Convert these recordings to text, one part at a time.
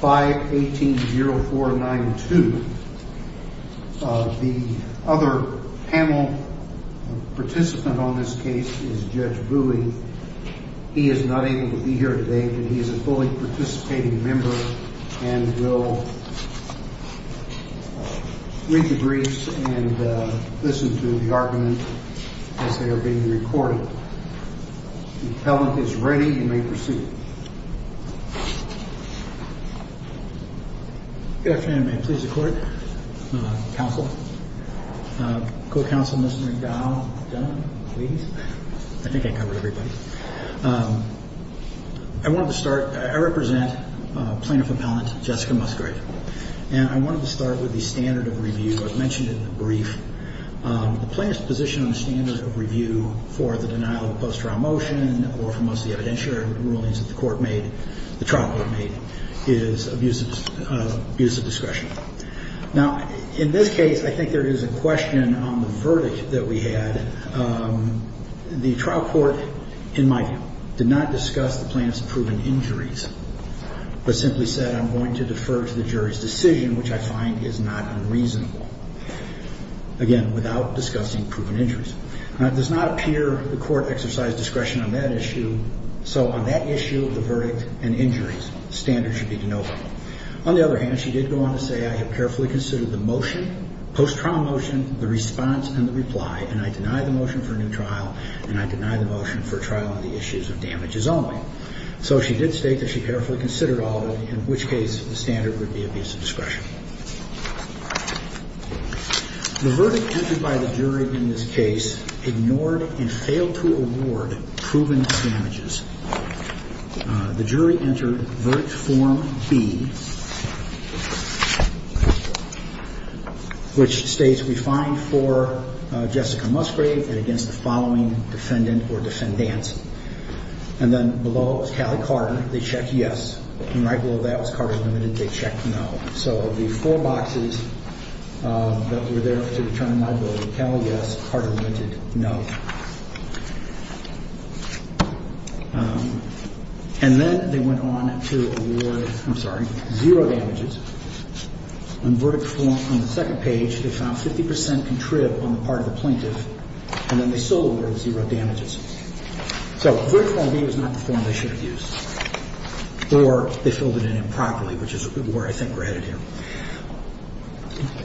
5-18-04-9-2 Good afternoon. May it please the court, counsel, co-counsel, Mr. Dow, gentlemen, please. I think I covered everybody. I wanted to start, I represent Plaintiff Appellant Jessica Musgrave. And I wanted to start with the standard of review I've mentioned in the brief. The plaintiff's position on the standard of review for the denial of a post-trial motion or for most of the evidentiary rulings that the court made, the trial court made, is abusive discretion. Now, in this case, I think there is a question on the verdict that we had. The trial court, in my view, did not discuss the plaintiff's proven injuries, but simply said, I'm going to defer to the jury's decision, which I find is not unreasonable, again, without discussing proven injuries. Now, it does not appear the court exercised discretion on that issue, so on that issue of the verdict and injuries, standards should be denoted. On the other hand, she did go on to say, I have carefully considered the motion, post-trial motion, the response, and the reply, and I deny the motion for a new trial, and I deny the motion for a trial on the issues of damages only. So she did state that she carefully considered all of it, in which case the standard would be abusive discretion. The verdict entered by the jury in this case ignored and failed to award proven damages. The jury entered verdict form B, which states, we find for Jessica Musgrave and against the following defendant or defendants, and then below was Callie Carter. They checked yes, and right below that was Carter Limited. They checked no. So of the four boxes that were there to determine liability, Cal, yes, Carter Limited, no. And then they went on to award, I'm sorry, zero damages. On the second page, they found 50 percent contrived on the part of the plaintiff, and then they still awarded zero damages. So verdict form B was not the form they should have used, or they filled it in improperly, which is where I think we're headed here.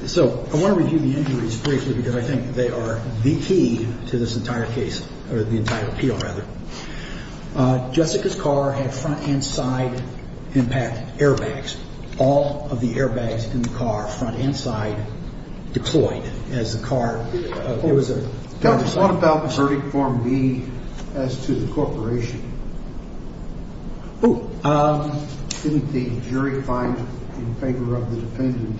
So I want to review the injuries briefly because I think they are the key to this entire case, or the entire appeal, rather. Jessica's car had front and side impact airbags. All of the airbags in the car, front and side, deployed as the car – What about verdict form B as to the corporation? Didn't the jury find in favor of the defendant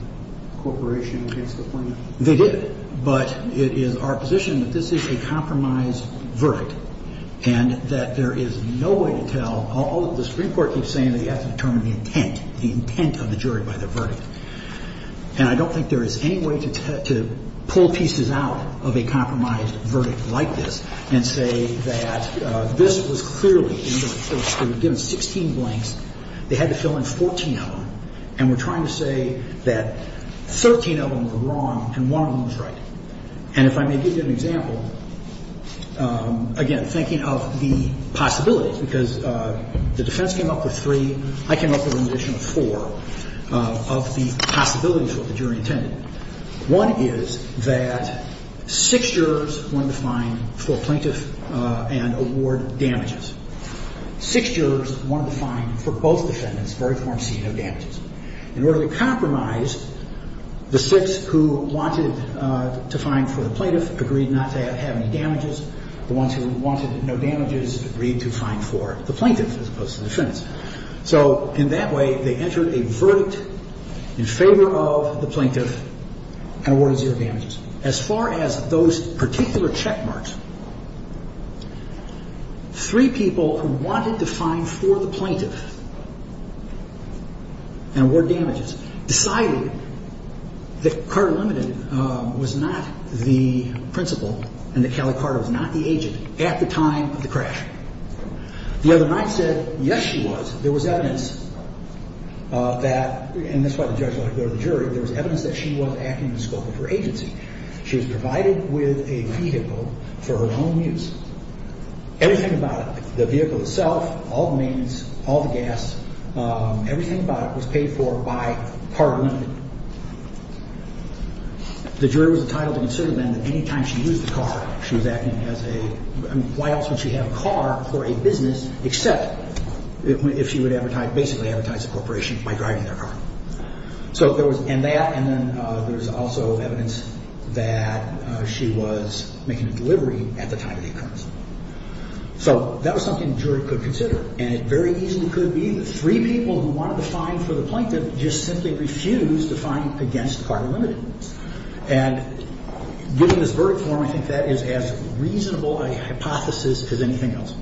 corporation against the plaintiff? They did, but it is our position that this is a compromise verdict and that there is no way to tell – the Supreme Court keeps saying that you have to determine the intent, the intent of the jury by their verdict. And I don't think there is any way to pull pieces out of a compromise verdict like this and say that this was clearly – they were given 16 blanks. They had to fill in 14 of them, and we're trying to say that 13 of them were wrong and one of them was right. And if I may give you an example, again, thinking of the possibilities, because the defense came up with three. I came up with an additional four of the possibilities that the jury intended. One is that six jurors wanted to find for plaintiff and award damages. Six jurors wanted to find for both defendants verdict form C, no damages. In order to compromise, the six who wanted to find for the plaintiff agreed not to have any damages. The ones who wanted no damages agreed to find for the plaintiff as opposed to the defendants. So in that way, they entered a verdict in favor of the plaintiff and awarded zero damages. As far as those particular check marks, three people who wanted to find for the plaintiff and award damages decided that Carter Limited was not the principal and that Kelly Carter was not the agent at the time of the crash. The other night said, yes, she was. There was evidence that, and that's why the judge let her go to the jury, there was evidence that she was acting in the scope of her agency. She was provided with a vehicle for her own use. Everything about it, the vehicle itself, all the maintenance, all the gas, everything about it was paid for by Carter Limited. The jury was entitled to consider, then, that any time she used the car, she was acting as a Why else would she have a car for a business except if she would basically advertise a corporation by driving their car? So there was that, and then there was also evidence that she was making a delivery at the time of the occurrence. So that was something the jury could consider. And it very easily could be the three people who wanted to find for the plaintiff just simply refused to find against Carter Limited. And given this verdict form, I think that is as reasonable a hypothesis as anything else.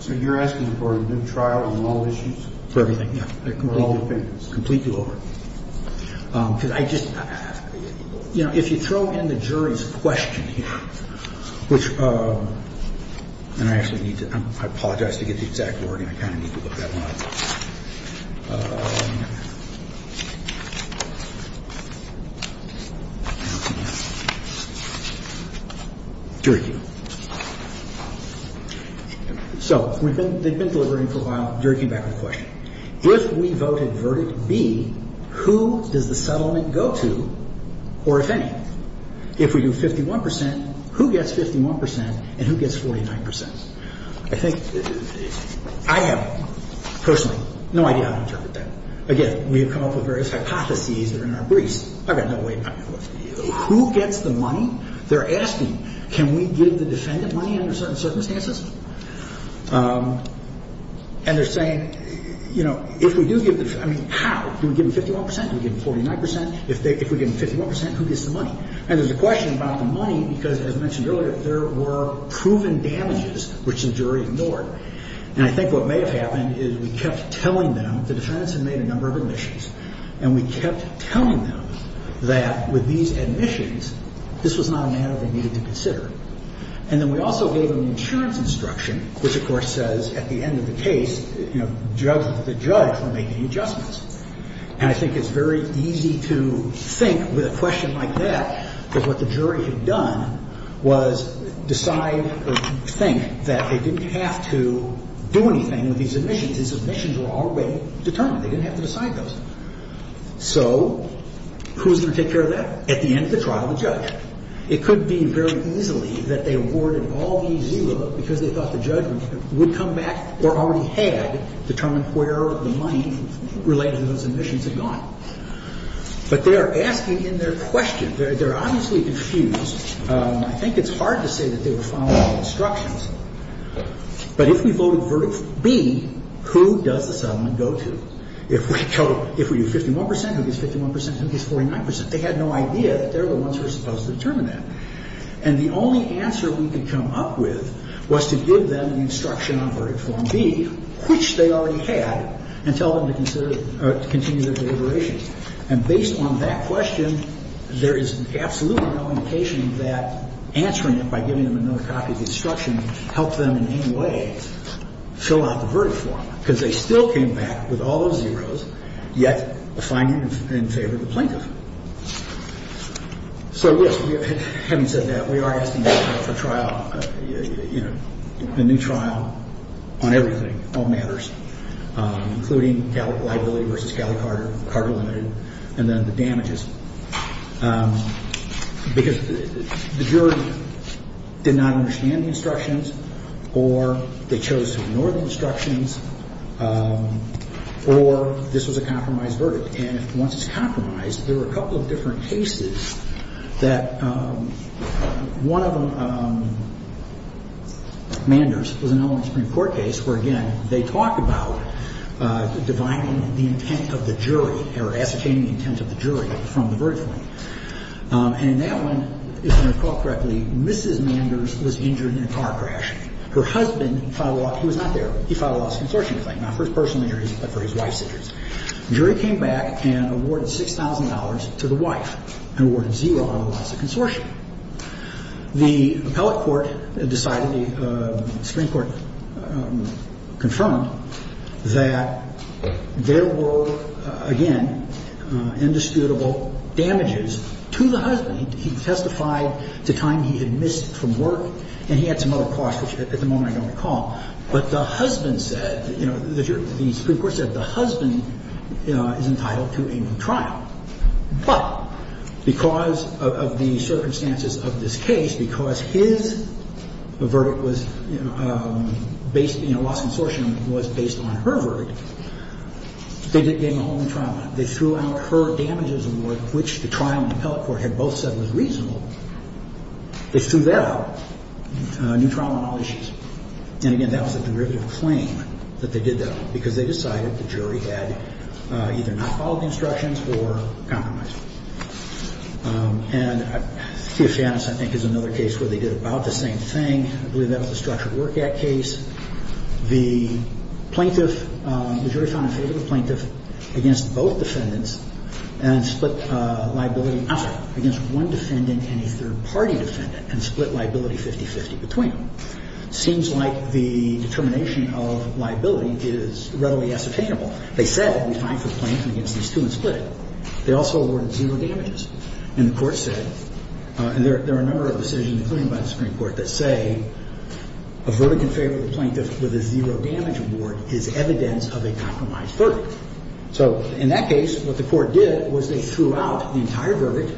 So you're asking for a new trial on all issues? For everything, yeah. For all defendants? Completely over. Because I just, you know, if you throw in the jury's question here, which, and I actually need to, I apologize to get the exact wording, I kind of need to look that one up. Okay. Jury Q. So they've been deliberating for a while. The jury came back with a question. If we voted verdict B, who does the settlement go to, or if any, if we do 51%, who gets 51% and who gets 49%? I think, I have personally no idea how to interpret that. Again, we have come up with various hypotheses that are in our briefs. I've got no way, who gets the money? They're asking, can we give the defendant money under certain circumstances? And they're saying, you know, if we do give, I mean, how? Do we give them 51%? Do we give them 49%? If we give them 51%, who gets the money? And there's a question about the money because, as mentioned earlier, there were proven damages, which the jury ignored. And I think what may have happened is we kept telling them, the defendants had made a number of admissions, and we kept telling them that with these admissions, this was not a matter they needed to consider. And then we also gave them the insurance instruction, which, of course, says at the end of the case, you know, the judge were making adjustments. And I think it's very easy to think with a question like that that what the jury had done was decide or think that they didn't have to do anything with these admissions. These admissions were already determined. They didn't have to decide those. So who's going to take care of that at the end of the trial? The judge. It could be very easily that they awarded all these zero because they thought the judge would come back or already had determined where the money related to those admissions had gone. But they are asking in their question. They're obviously confused. I think it's hard to say that they were following the instructions. But if we voted verdict B, who does the settlement go to? If we vote 51%, who gets 51%? Who gets 49%? They had no idea that they're the ones who are supposed to determine that. And the only answer we could come up with was to give them the instruction on verdict form B, which they already had, and tell them to consider or to continue their deliberations. And based on that question, there is absolutely no indication that answering it by giving them another copy of the instruction helped them in any way fill out the verdict form. Because they still came back with all those zeros, yet the finding in favor of the plaintiff. So, yes, having said that, we are asking for trial, you know, a new trial on everything, all matters, including liability versus Cali Carter, Carter Limited, and then the damages. Because the jury did not understand the instructions, or they chose to ignore the instructions, or this was a compromised verdict. And once it's compromised, there were a couple of different cases that one of them, Manders, was an element of a Supreme Court case where, again, they talk about divining the intent of the jury, or ascertaining the intent of the jury from the verdict form. And in that one, if I recall correctly, Mrs. Manders was injured in a car crash. Her husband filed a law ‑‑ he was not there. He filed a lawsuit in search of the claim, not for his personal injuries, but for his wife's injuries. The jury came back and awarded $6,000 to the wife, and awarded zero out of the lawsuit consortium. The appellate court decided, the Supreme Court confirmed, that there were, again, indisputable damages to the husband. He testified to time he had missed from work, and he had some other costs, which at the moment I don't recall. But the husband said, you know, the Supreme Court said the husband is entitled to a new trial. But because of the circumstances of this case, because his verdict was based, you know, the lawsuit consortium was based on her verdict, they gave him a whole new trial. They threw out her damages award, which the trial in the appellate court had both said was reasonable. They threw that out, a new trial on all issues. And, again, that was a derivative claim that they did that, because they decided the jury had either not followed the instructions or compromised. And Theofanis, I think, is another case where they did about the same thing. I believe that was a structured work act case. The plaintiff, the jury found a favorable plaintiff against both defendants, and split liability up against one defendant and a third party defendant, and split liability 50-50 between them. It seems like the determination of liability is readily ascertainable. They said it would be fine for the plaintiff against these two and split it. They also awarded zero damages. And the court said, and there are a number of decisions, including by the Supreme Court, that say a verdict in favor of the plaintiff with a zero damage award is evidence of a compromised verdict. So in that case, what the court did was they threw out the entire verdict,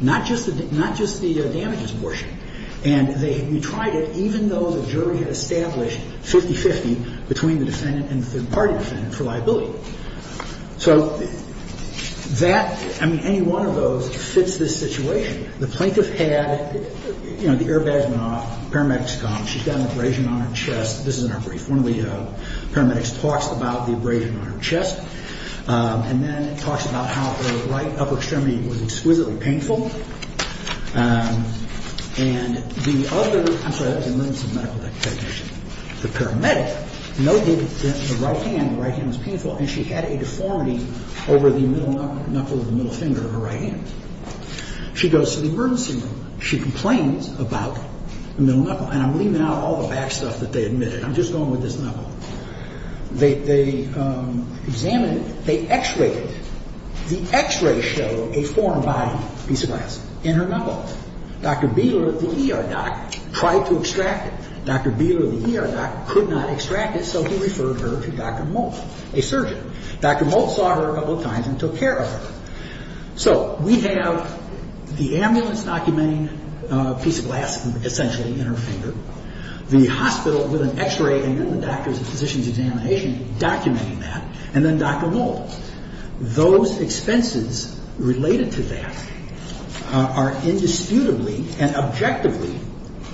not just the damages portion. And they tried it even though the jury had established 50-50 between the defendant and the third party defendant for liability. So that, I mean, any one of those fits this situation. The plaintiff had, you know, the airbags went off, paramedics come, she's got an abrasion on her chest. This is in her brief. One of the paramedics talks about the abrasion on her chest. And then talks about how her right upper extremity was exquisitely painful. And the other, I'm sorry, that was an emergency medical technician. The paramedic noted that the right hand, the right hand was painful, and she had a deformity over the middle knuckle of the middle finger of her right hand. She goes to the emergency room. She complains about the middle knuckle. And I'm leaving out all the back stuff that they admitted. I'm just going with this knuckle. They examined it. They x-rayed it. The x-rays show a foreign body piece of glass in her knuckle. Dr. Bieler, the ER doc, tried to extract it. Dr. Bieler, the ER doc, could not extract it, so he referred her to Dr. Moult, a surgeon. Dr. Moult saw her a couple of times and took care of her. So we have the ambulance documenting a piece of glass, essentially, in her finger, the hospital with an x-ray and then the doctor's physician's examination documenting that, and then Dr. Moult. Those expenses related to that are indisputably and objectively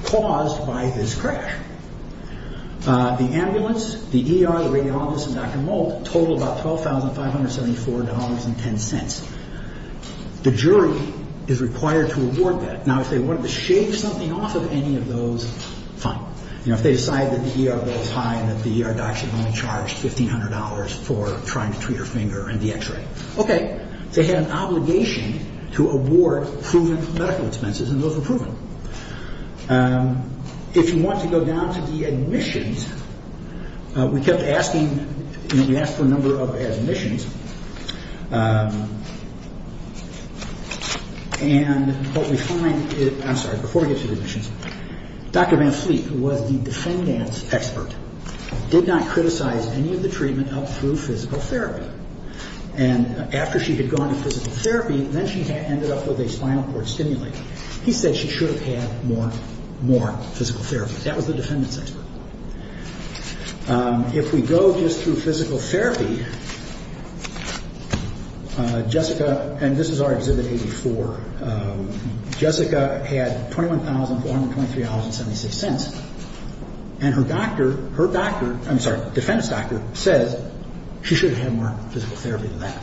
caused by this crash. The ambulance, the ER, the radiologist, and Dr. Moult total about $12,574.10. The jury is required to award that. Now, if they wanted to shave something off of any of those, fine. If they decide that the ER bill is high and that the ER doc should only charge $1,500 for trying to treat her finger and the x-ray, okay. They had an obligation to award proven medical expenses, and those were proven. If you want to go down to the admissions, we kept asking, we asked for a number of admissions, and what we find is, I'm sorry, before we get to the admissions, Dr. Van Fleet, who was the defendant's expert, did not criticize any of the treatment up through physical therapy. And after she had gone to physical therapy, then she ended up with a spinal cord stimulator. He said she should have had more physical therapy. That was the defendant's expert. If we go just through physical therapy, Jessica, and this is our exhibit 84, Jessica had $21,423.76, and her doctor, her doctor, I'm sorry, defendant's doctor says she should have had more physical therapy than that.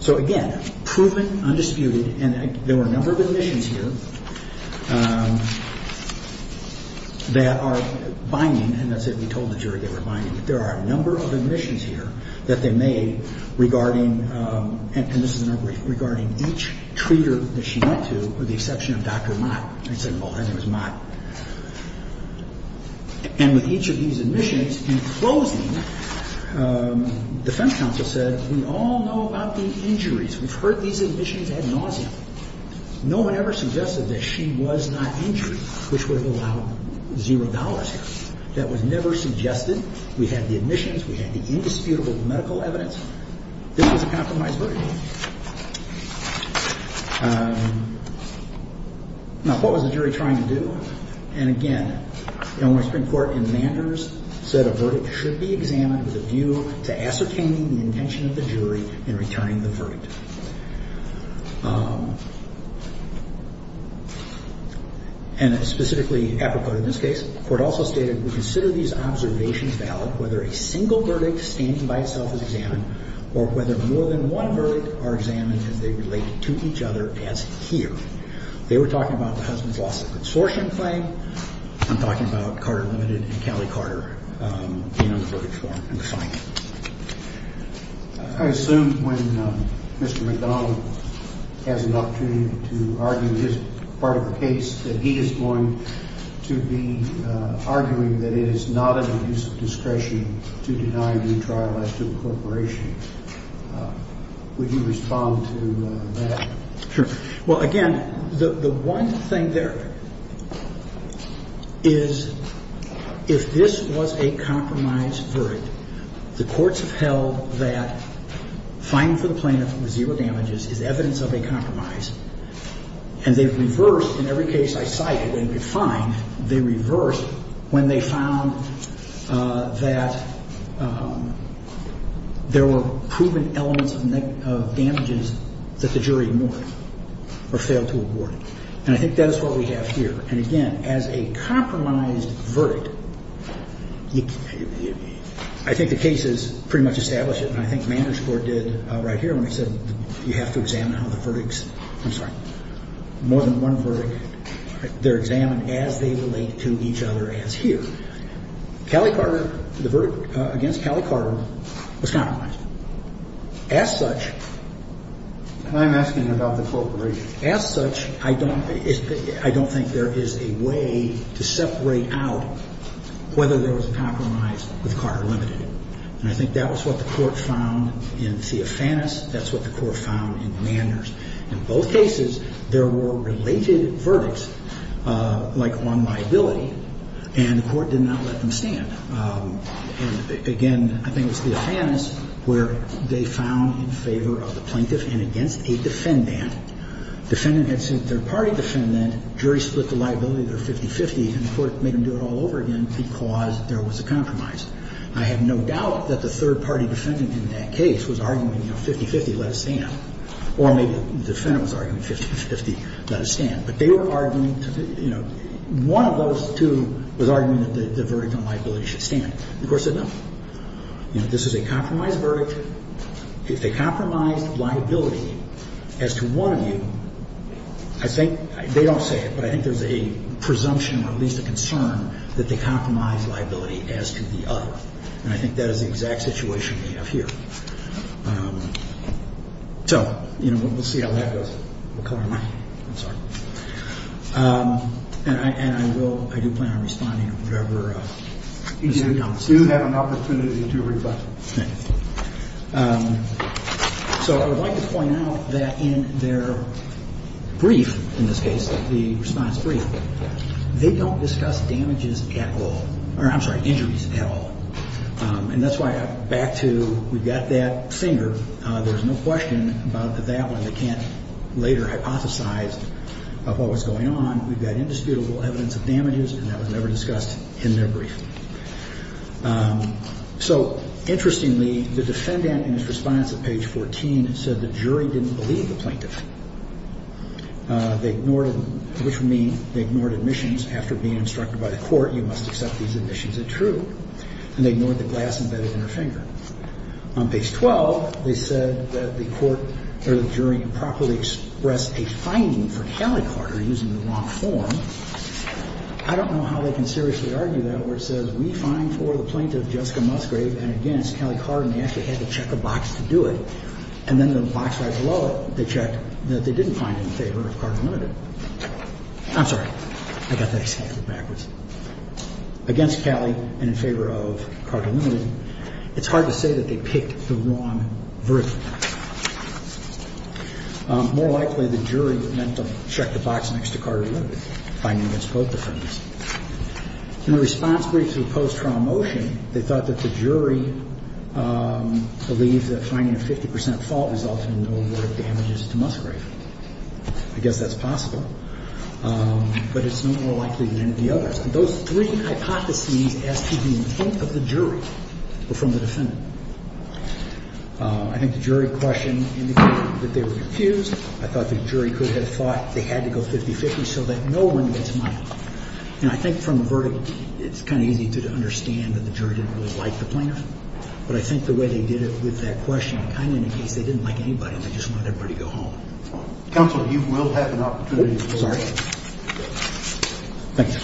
So again, proven, undisputed, and there were a number of admissions here that are binding, and that's if we told the jury they were binding. There are a number of admissions here that they made regarding, and this is a number regarding each treater that she went to with the exception of Dr. Mott. And he said, well, his name was Mott. And with each of these admissions, in closing, defense counsel said, we all know about the injuries. We've heard these admissions ad nauseam. No one ever suggested that she was not injured, which would have allowed zero dollars here. That was never suggested. We had the admissions. We had the indisputable medical evidence. This was a compromised verdict. Now, what was the jury trying to do? And again, the Illinois Supreme Court in Manders said a verdict should be examined with a view to ascertaining the intention of the jury in returning the verdict. And specifically apropos to this case, the court also stated, we consider these observations valid whether a single verdict standing by itself is examined or whether more than one verdict are examined as they relate to each other as here. They were talking about the husband's loss of the consortium claim. I'm talking about Carter Limited and Kelly Carter being on the verdict form. I assume when Mr. McDonald has an opportunity to argue his part of the case, that he is going to be arguing that it is not in our use of discretion to deny retrial as to the corporation. Would you respond to that? Sure. Well, again, the one thing there is if this was a compromised verdict, the courts have held that fining for the plaintiff with zero damages is evidence of a compromise. And they've reversed. In every case I cited, when we fined, they reversed when they found that there were proven elements of damages that the jury ignored or failed to award. And I think that is what we have here. And, again, as a compromised verdict, I think the cases pretty much establish it, and I think Manners Court did right here when they said you have to examine how the verdicts, I'm sorry, more than one verdict. They're examined as they relate to each other as here. Kelly Carter, the verdict against Kelly Carter was compromised. As such. I'm asking about the corporation. As such, I don't think there is a way to separate out whether there was a compromise with Carter Limited. And I think that was what the court found in Theofanis. That's what the court found in Manners. In both cases, there were related verdicts, like on liability, and the court did not let them stand. And, again, I think it was Theofanis where they found in favor of the plaintiff and against a defendant. Defendant had sued third-party defendant. Jury split the liability. They're 50-50. And the court made them do it all over again because there was a compromise. I have no doubt that the third-party defendant in that case was arguing, you know, 50-50, let us stand. Or maybe the defendant was arguing 50-50, let us stand. But they were arguing, you know, one of those two was arguing that the verdict on liability should stand. The court said no. You know, this is a compromised verdict. If they compromised liability as to one of you, I think they don't say it, but I think there's a presumption or at least a concern that they compromised liability as to the other. And I think that is the exact situation we have here. So, you know, we'll see how that goes. What color am I? I'm sorry. And I will – I do plan on responding to whatever the suit comes to. You do have an opportunity to reply. Thank you. So I would like to point out that in their brief, in this case, the response brief, they don't discuss damages at all – or, I'm sorry, injuries at all. And that's why I'm back to we've got that finger. There's no question about that one. They can't later hypothesize of what was going on. We've got indisputable evidence of damages, and that was never discussed in their brief. So, interestingly, the defendant in his response at page 14 said the jury didn't believe the plaintiff. They ignored – which would mean they ignored admissions. After being instructed by the court, you must accept these admissions as true. And they ignored the glass embedded in her finger. On page 12, they said that the court or the jury improperly expressed a finding for Callie Carter using the wrong form. I don't know how they can seriously argue that where it says we find for the plaintiff Jessica Musgrave and against Callie Carter, and they actually had to check a box to do it. And then the box right below it, they checked that they didn't find it in favor of Carter Limited. I'm sorry. I got that example backwards. Against Callie and in favor of Carter Limited, it's hard to say that they picked the wrong version. More likely, the jury meant to check the box next to Carter Limited, finding against both defendants. In the response brief to the post-trial motion, they thought that the jury believed that finding a 50 percent fault resulted in no word of damages to Musgrave. I guess that's possible. But it's no more likely than any of the others. Those three hypotheses as to the intent of the jury were from the defendant. I think the jury question indicated that they were confused. I thought the jury could have thought they had to go 50-50 so that no one gets money. And I think from the verdict, it's kind of easy to understand that the jury didn't really like the plaintiff. But I think the way they did it with that question, kind of indicates they didn't like anybody and they just wanted everybody to go home. Counsel, you will have an opportunity to resort. Thank you.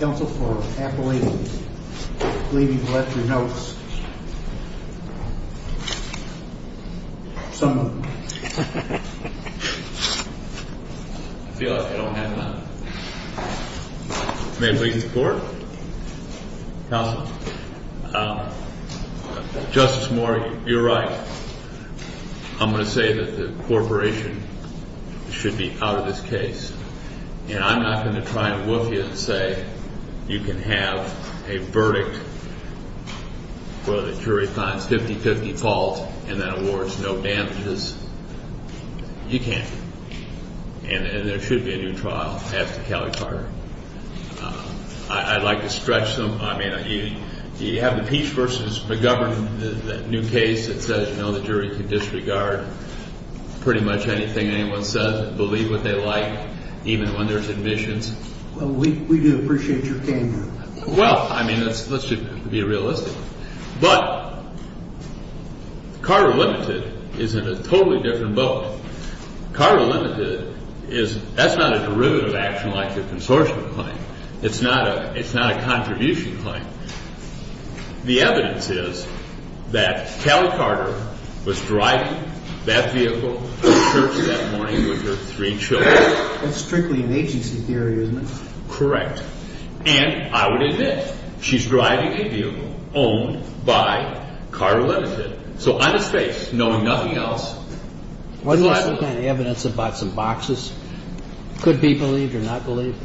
Counsel for Appalachians, I believe you've left your notes somewhere. I feel like I don't have none. May I please report? Counsel, Justice Morey, you're right. I'm going to say that the corporation should be out of this case. And I'm not going to try and woof you and say you can have a verdict where the jury finds 50-50 fault and then awards no damages. You can't. And there should be a new trial after Kelly Carter. I'd like to stretch them. You have the Peace v. McGovern, that new case that says the jury can disregard pretty much anything anyone says, believe what they like, even when there's admissions. Well, we do appreciate your tenure. Well, I mean, let's just be realistic. But Carter Limited is in a totally different boat. Carter Limited, that's not a derivative action like the consortium claim. It's not a contribution claim. The evidence is that Kelly Carter was driving that vehicle to church that morning with her three children. That's strictly an agency theory, isn't it? Correct. And I would admit, she's driving a vehicle owned by Carter Limited. So on its face, knowing nothing else. Wasn't there some kind of evidence about some boxes? Could be believed or not believed?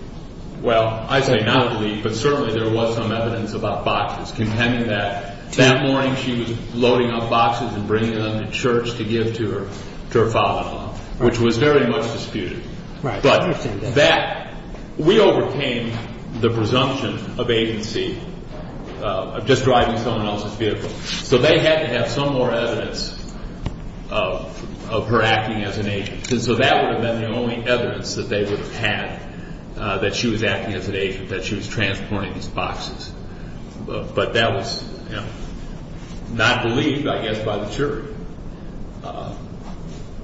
Well, I say not believed, but certainly there was some evidence about boxes, contending that that morning she was loading up boxes and bringing them to church to give to her father-in-law, which was very much disputed. But that, we overcame the presumption of agency of just driving someone else's vehicle. So they had to have some more evidence of her acting as an agent. And so that would have been the only evidence that they would have had that she was acting as an agent, that she was transporting these boxes. But that was not believed, I guess, by the jury.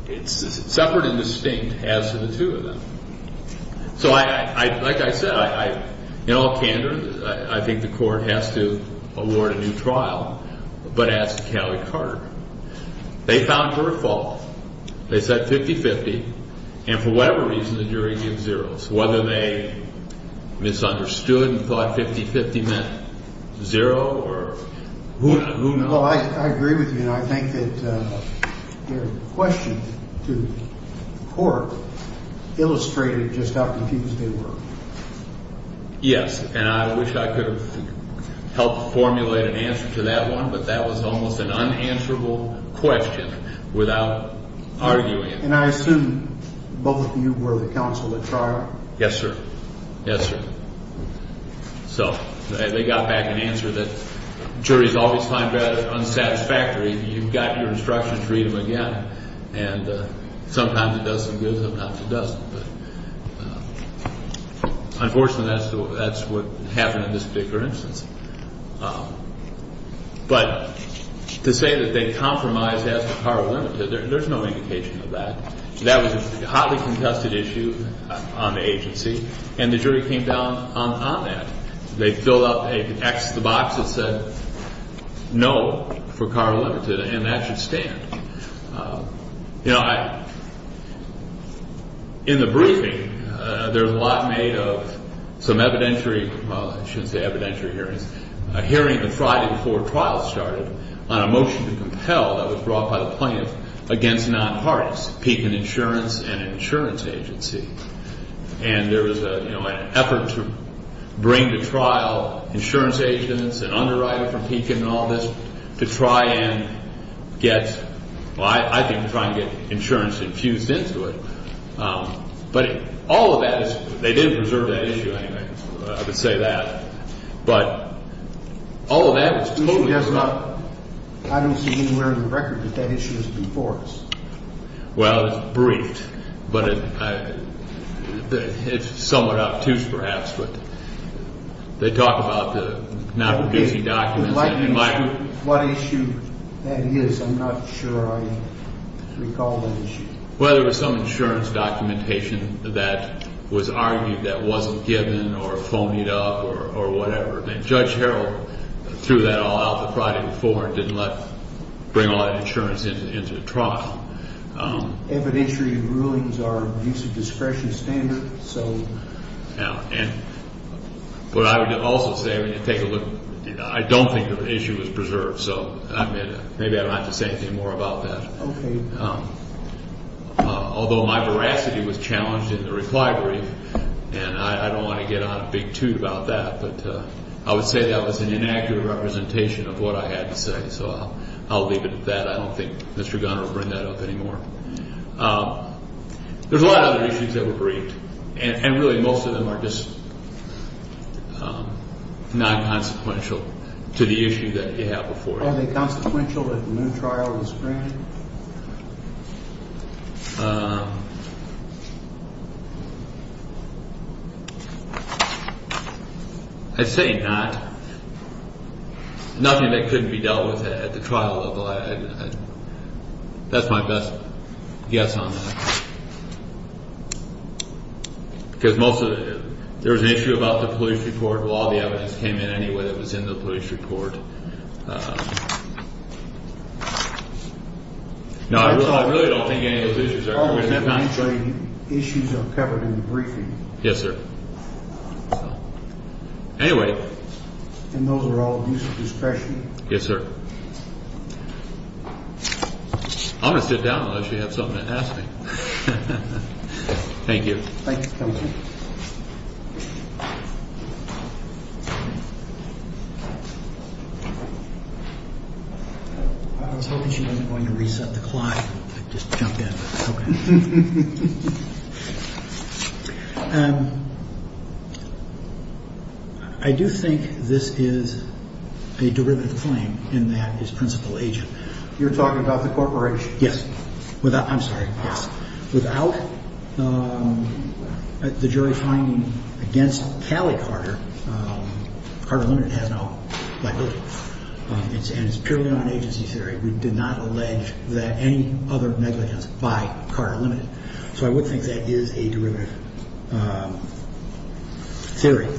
It's separate and distinct as to the two of them. So like I said, in all candor, I think the court has to award a new trial. They said 50-50. And for whatever reason, the jury gives zeroes, whether they misunderstood and thought 50-50 meant zero or who knows. Well, I agree with you, and I think that your question to the court illustrated just how confused they were. Yes, and I wish I could have helped formulate an answer to that one, but that was almost an unanswerable question without arguing. And I assume both of you were the counsel at trial. Yes, sir. Yes, sir. So they got back an answer that juries always find rather unsatisfactory. You've got your instructions, read them again. And sometimes it does them good, sometimes it doesn't. Unfortunately, that's what happened in this particular instance. But to say that they compromised as for Carle-Limited, there's no indication of that. That was a hotly contested issue on the agency, and the jury came down on that. They filled out an X to the box that said no for Carle-Limited, and that should stand. You know, in the briefing, there was a lot made of some evidentiary – well, I shouldn't say evidentiary hearings – a hearing the Friday before trial started on a motion to compel that was brought by the plaintiff against nonpartists, Pekin Insurance and an insurance agency. And there was an effort to bring to trial insurance agents and underwriters from Pekin and all this to try and get – well, I think to try and get insurance infused into it. But all of that – they didn't preserve that issue anyway, I would say that. But all of that was totally – I don't see anywhere in the record that that issue was before us. Well, it's briefed, but it's somewhat obtuse perhaps. They talk about the nonproducing documents. What issue that is, I'm not sure I recall that issue. Well, there was some insurance documentation that was argued that wasn't given or phoned it up or whatever. And Judge Harrell threw that all out the Friday before and didn't let – bring all that insurance into the trial. Evidentiary rulings are abuse of discretion standard, so – But I would also say, I mean, take a look – I don't think the issue was preserved. So maybe I don't have to say anything more about that. Although my veracity was challenged in the reply brief, and I don't want to get on a big toot about that, but I would say that was an inaccurate representation of what I had to say. So I'll leave it at that. I don't think Mr. Gunner will bring that up anymore. There's a lot of other issues that were briefed. And really most of them are just non-consequential to the issue that you have before you. Are they consequential that no trial was granted? I'd say not. Nothing that couldn't be dealt with at the trial level. That's my best guess on that. Because most of the – there was an issue about the police report. Well, all the evidence came in anyway that was in the police report. No, I really don't think any of those issues are – All the issues are covered in the briefing. Yes, sir. Anyway – And those are all abuse of discretion. Yes, sir. I'm going to sit down unless you have something to ask me. Thank you. Thank you. I was hoping she wasn't going to reset the clock. I just jumped in. Okay. I do think this is a derivative claim in that his principal agent – You're talking about the corporation? Yes. Without – I'm sorry. Without the jury finding against Callie Carter, Carter Limited has no liability. And it's purely on agency theory. We did not allege that any other negligence by Carter Limited. So I would think that is a derivative theory.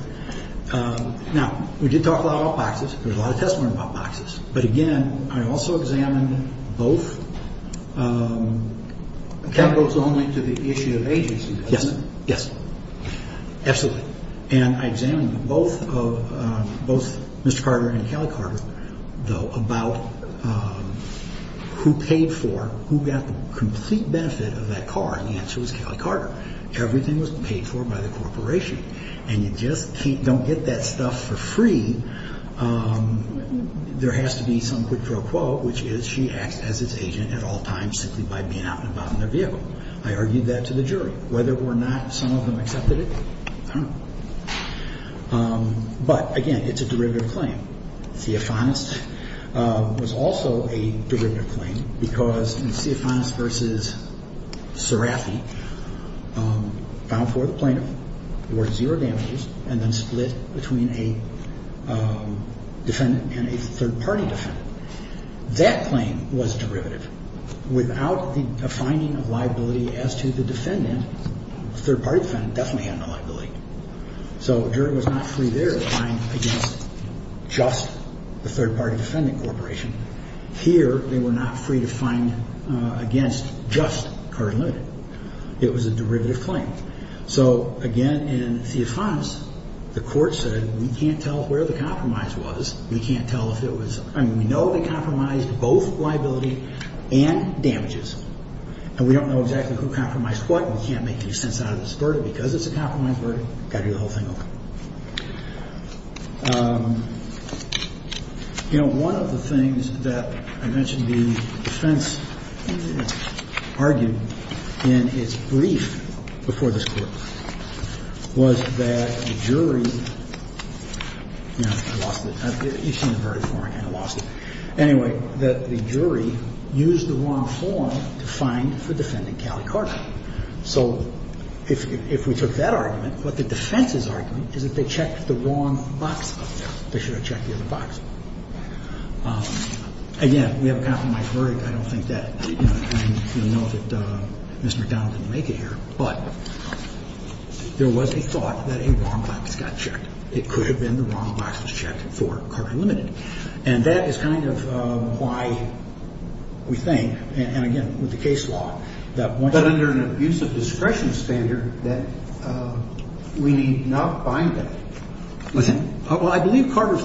Now, we did talk a lot about boxes. There was a lot of testimony about boxes. But, again, I also examined both – Capital is only to the issue of agency. Yes. Yes. Absolutely. And I examined both Mr. Carter and Callie Carter about who paid for, who got the complete benefit of that car, and the answer was Callie Carter. Everything was paid for by the corporation. And you just don't get that stuff for free. There has to be some quid pro quo, which is she acts as its agent at all times simply by being out and about in their vehicle. I argued that to the jury. Whether or not some of them accepted it, I don't know. But, again, it's a derivative claim. Theofanis was also a derivative claim because Theofanis v. Serafi found for the plaintiff, there were zero damages, and then split between a defendant and a third-party defendant. That claim was derivative. Without the finding of liability as to the defendant, the third-party defendant definitely had no liability. So a jury was not free there to find against just the third-party defendant corporation. Here, they were not free to find against just Carter Unlimited. It was a derivative claim. So, again, in Theofanis, the court said we can't tell where the compromise was. We can't tell if it was... I mean, we know they compromised both liability and damages. And we don't know exactly who compromised what. We can't make any sense out of this verdict because it's a compromise verdict. Got to do the whole thing over. You know, one of the things that I mentioned the defense argued in its brief before this Court was that the jury, you know, I lost it. You've seen the verdict before. I kind of lost it. Anyway, that the jury used the wrong form to find the defendant, Callie Carter. So if we took that argument, what the defense is arguing is that they checked the wrong box. They should have checked the other box. Again, we have a compromised verdict. I don't think that, you know, I know that Mr. McDonald didn't make it here. But there was a thought that a wrong box got checked. It could have been the wrong box was checked for Carter Unlimited. And that is kind of why we think, and again, with the case law, that one... But I do think the court decided that this was an abuse of discretion standard that we need not bind it. I believe Carter's...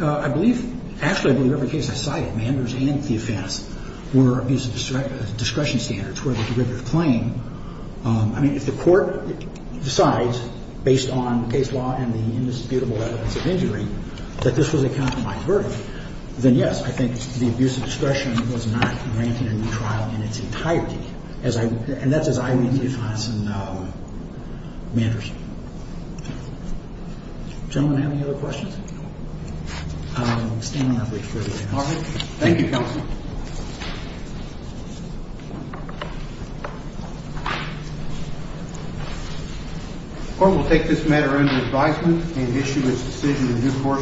I believe... Actually, I believe every case I cited, Manders and the offense, were abuse of discretion standards toward a derivative claim. I mean, if the court decides, based on case law and the indisputable evidence of injury, that this was a countermind verdict, then yes, I think the abuse of discretion was not granted in the trial in its entirety, as I... And that's as I read the defense in Manders. Gentlemen, do I have any other questions? I'm standing on a break for the day. All right. Thank you, counsel. The court will take this matter under advisement and issue its decision in due course.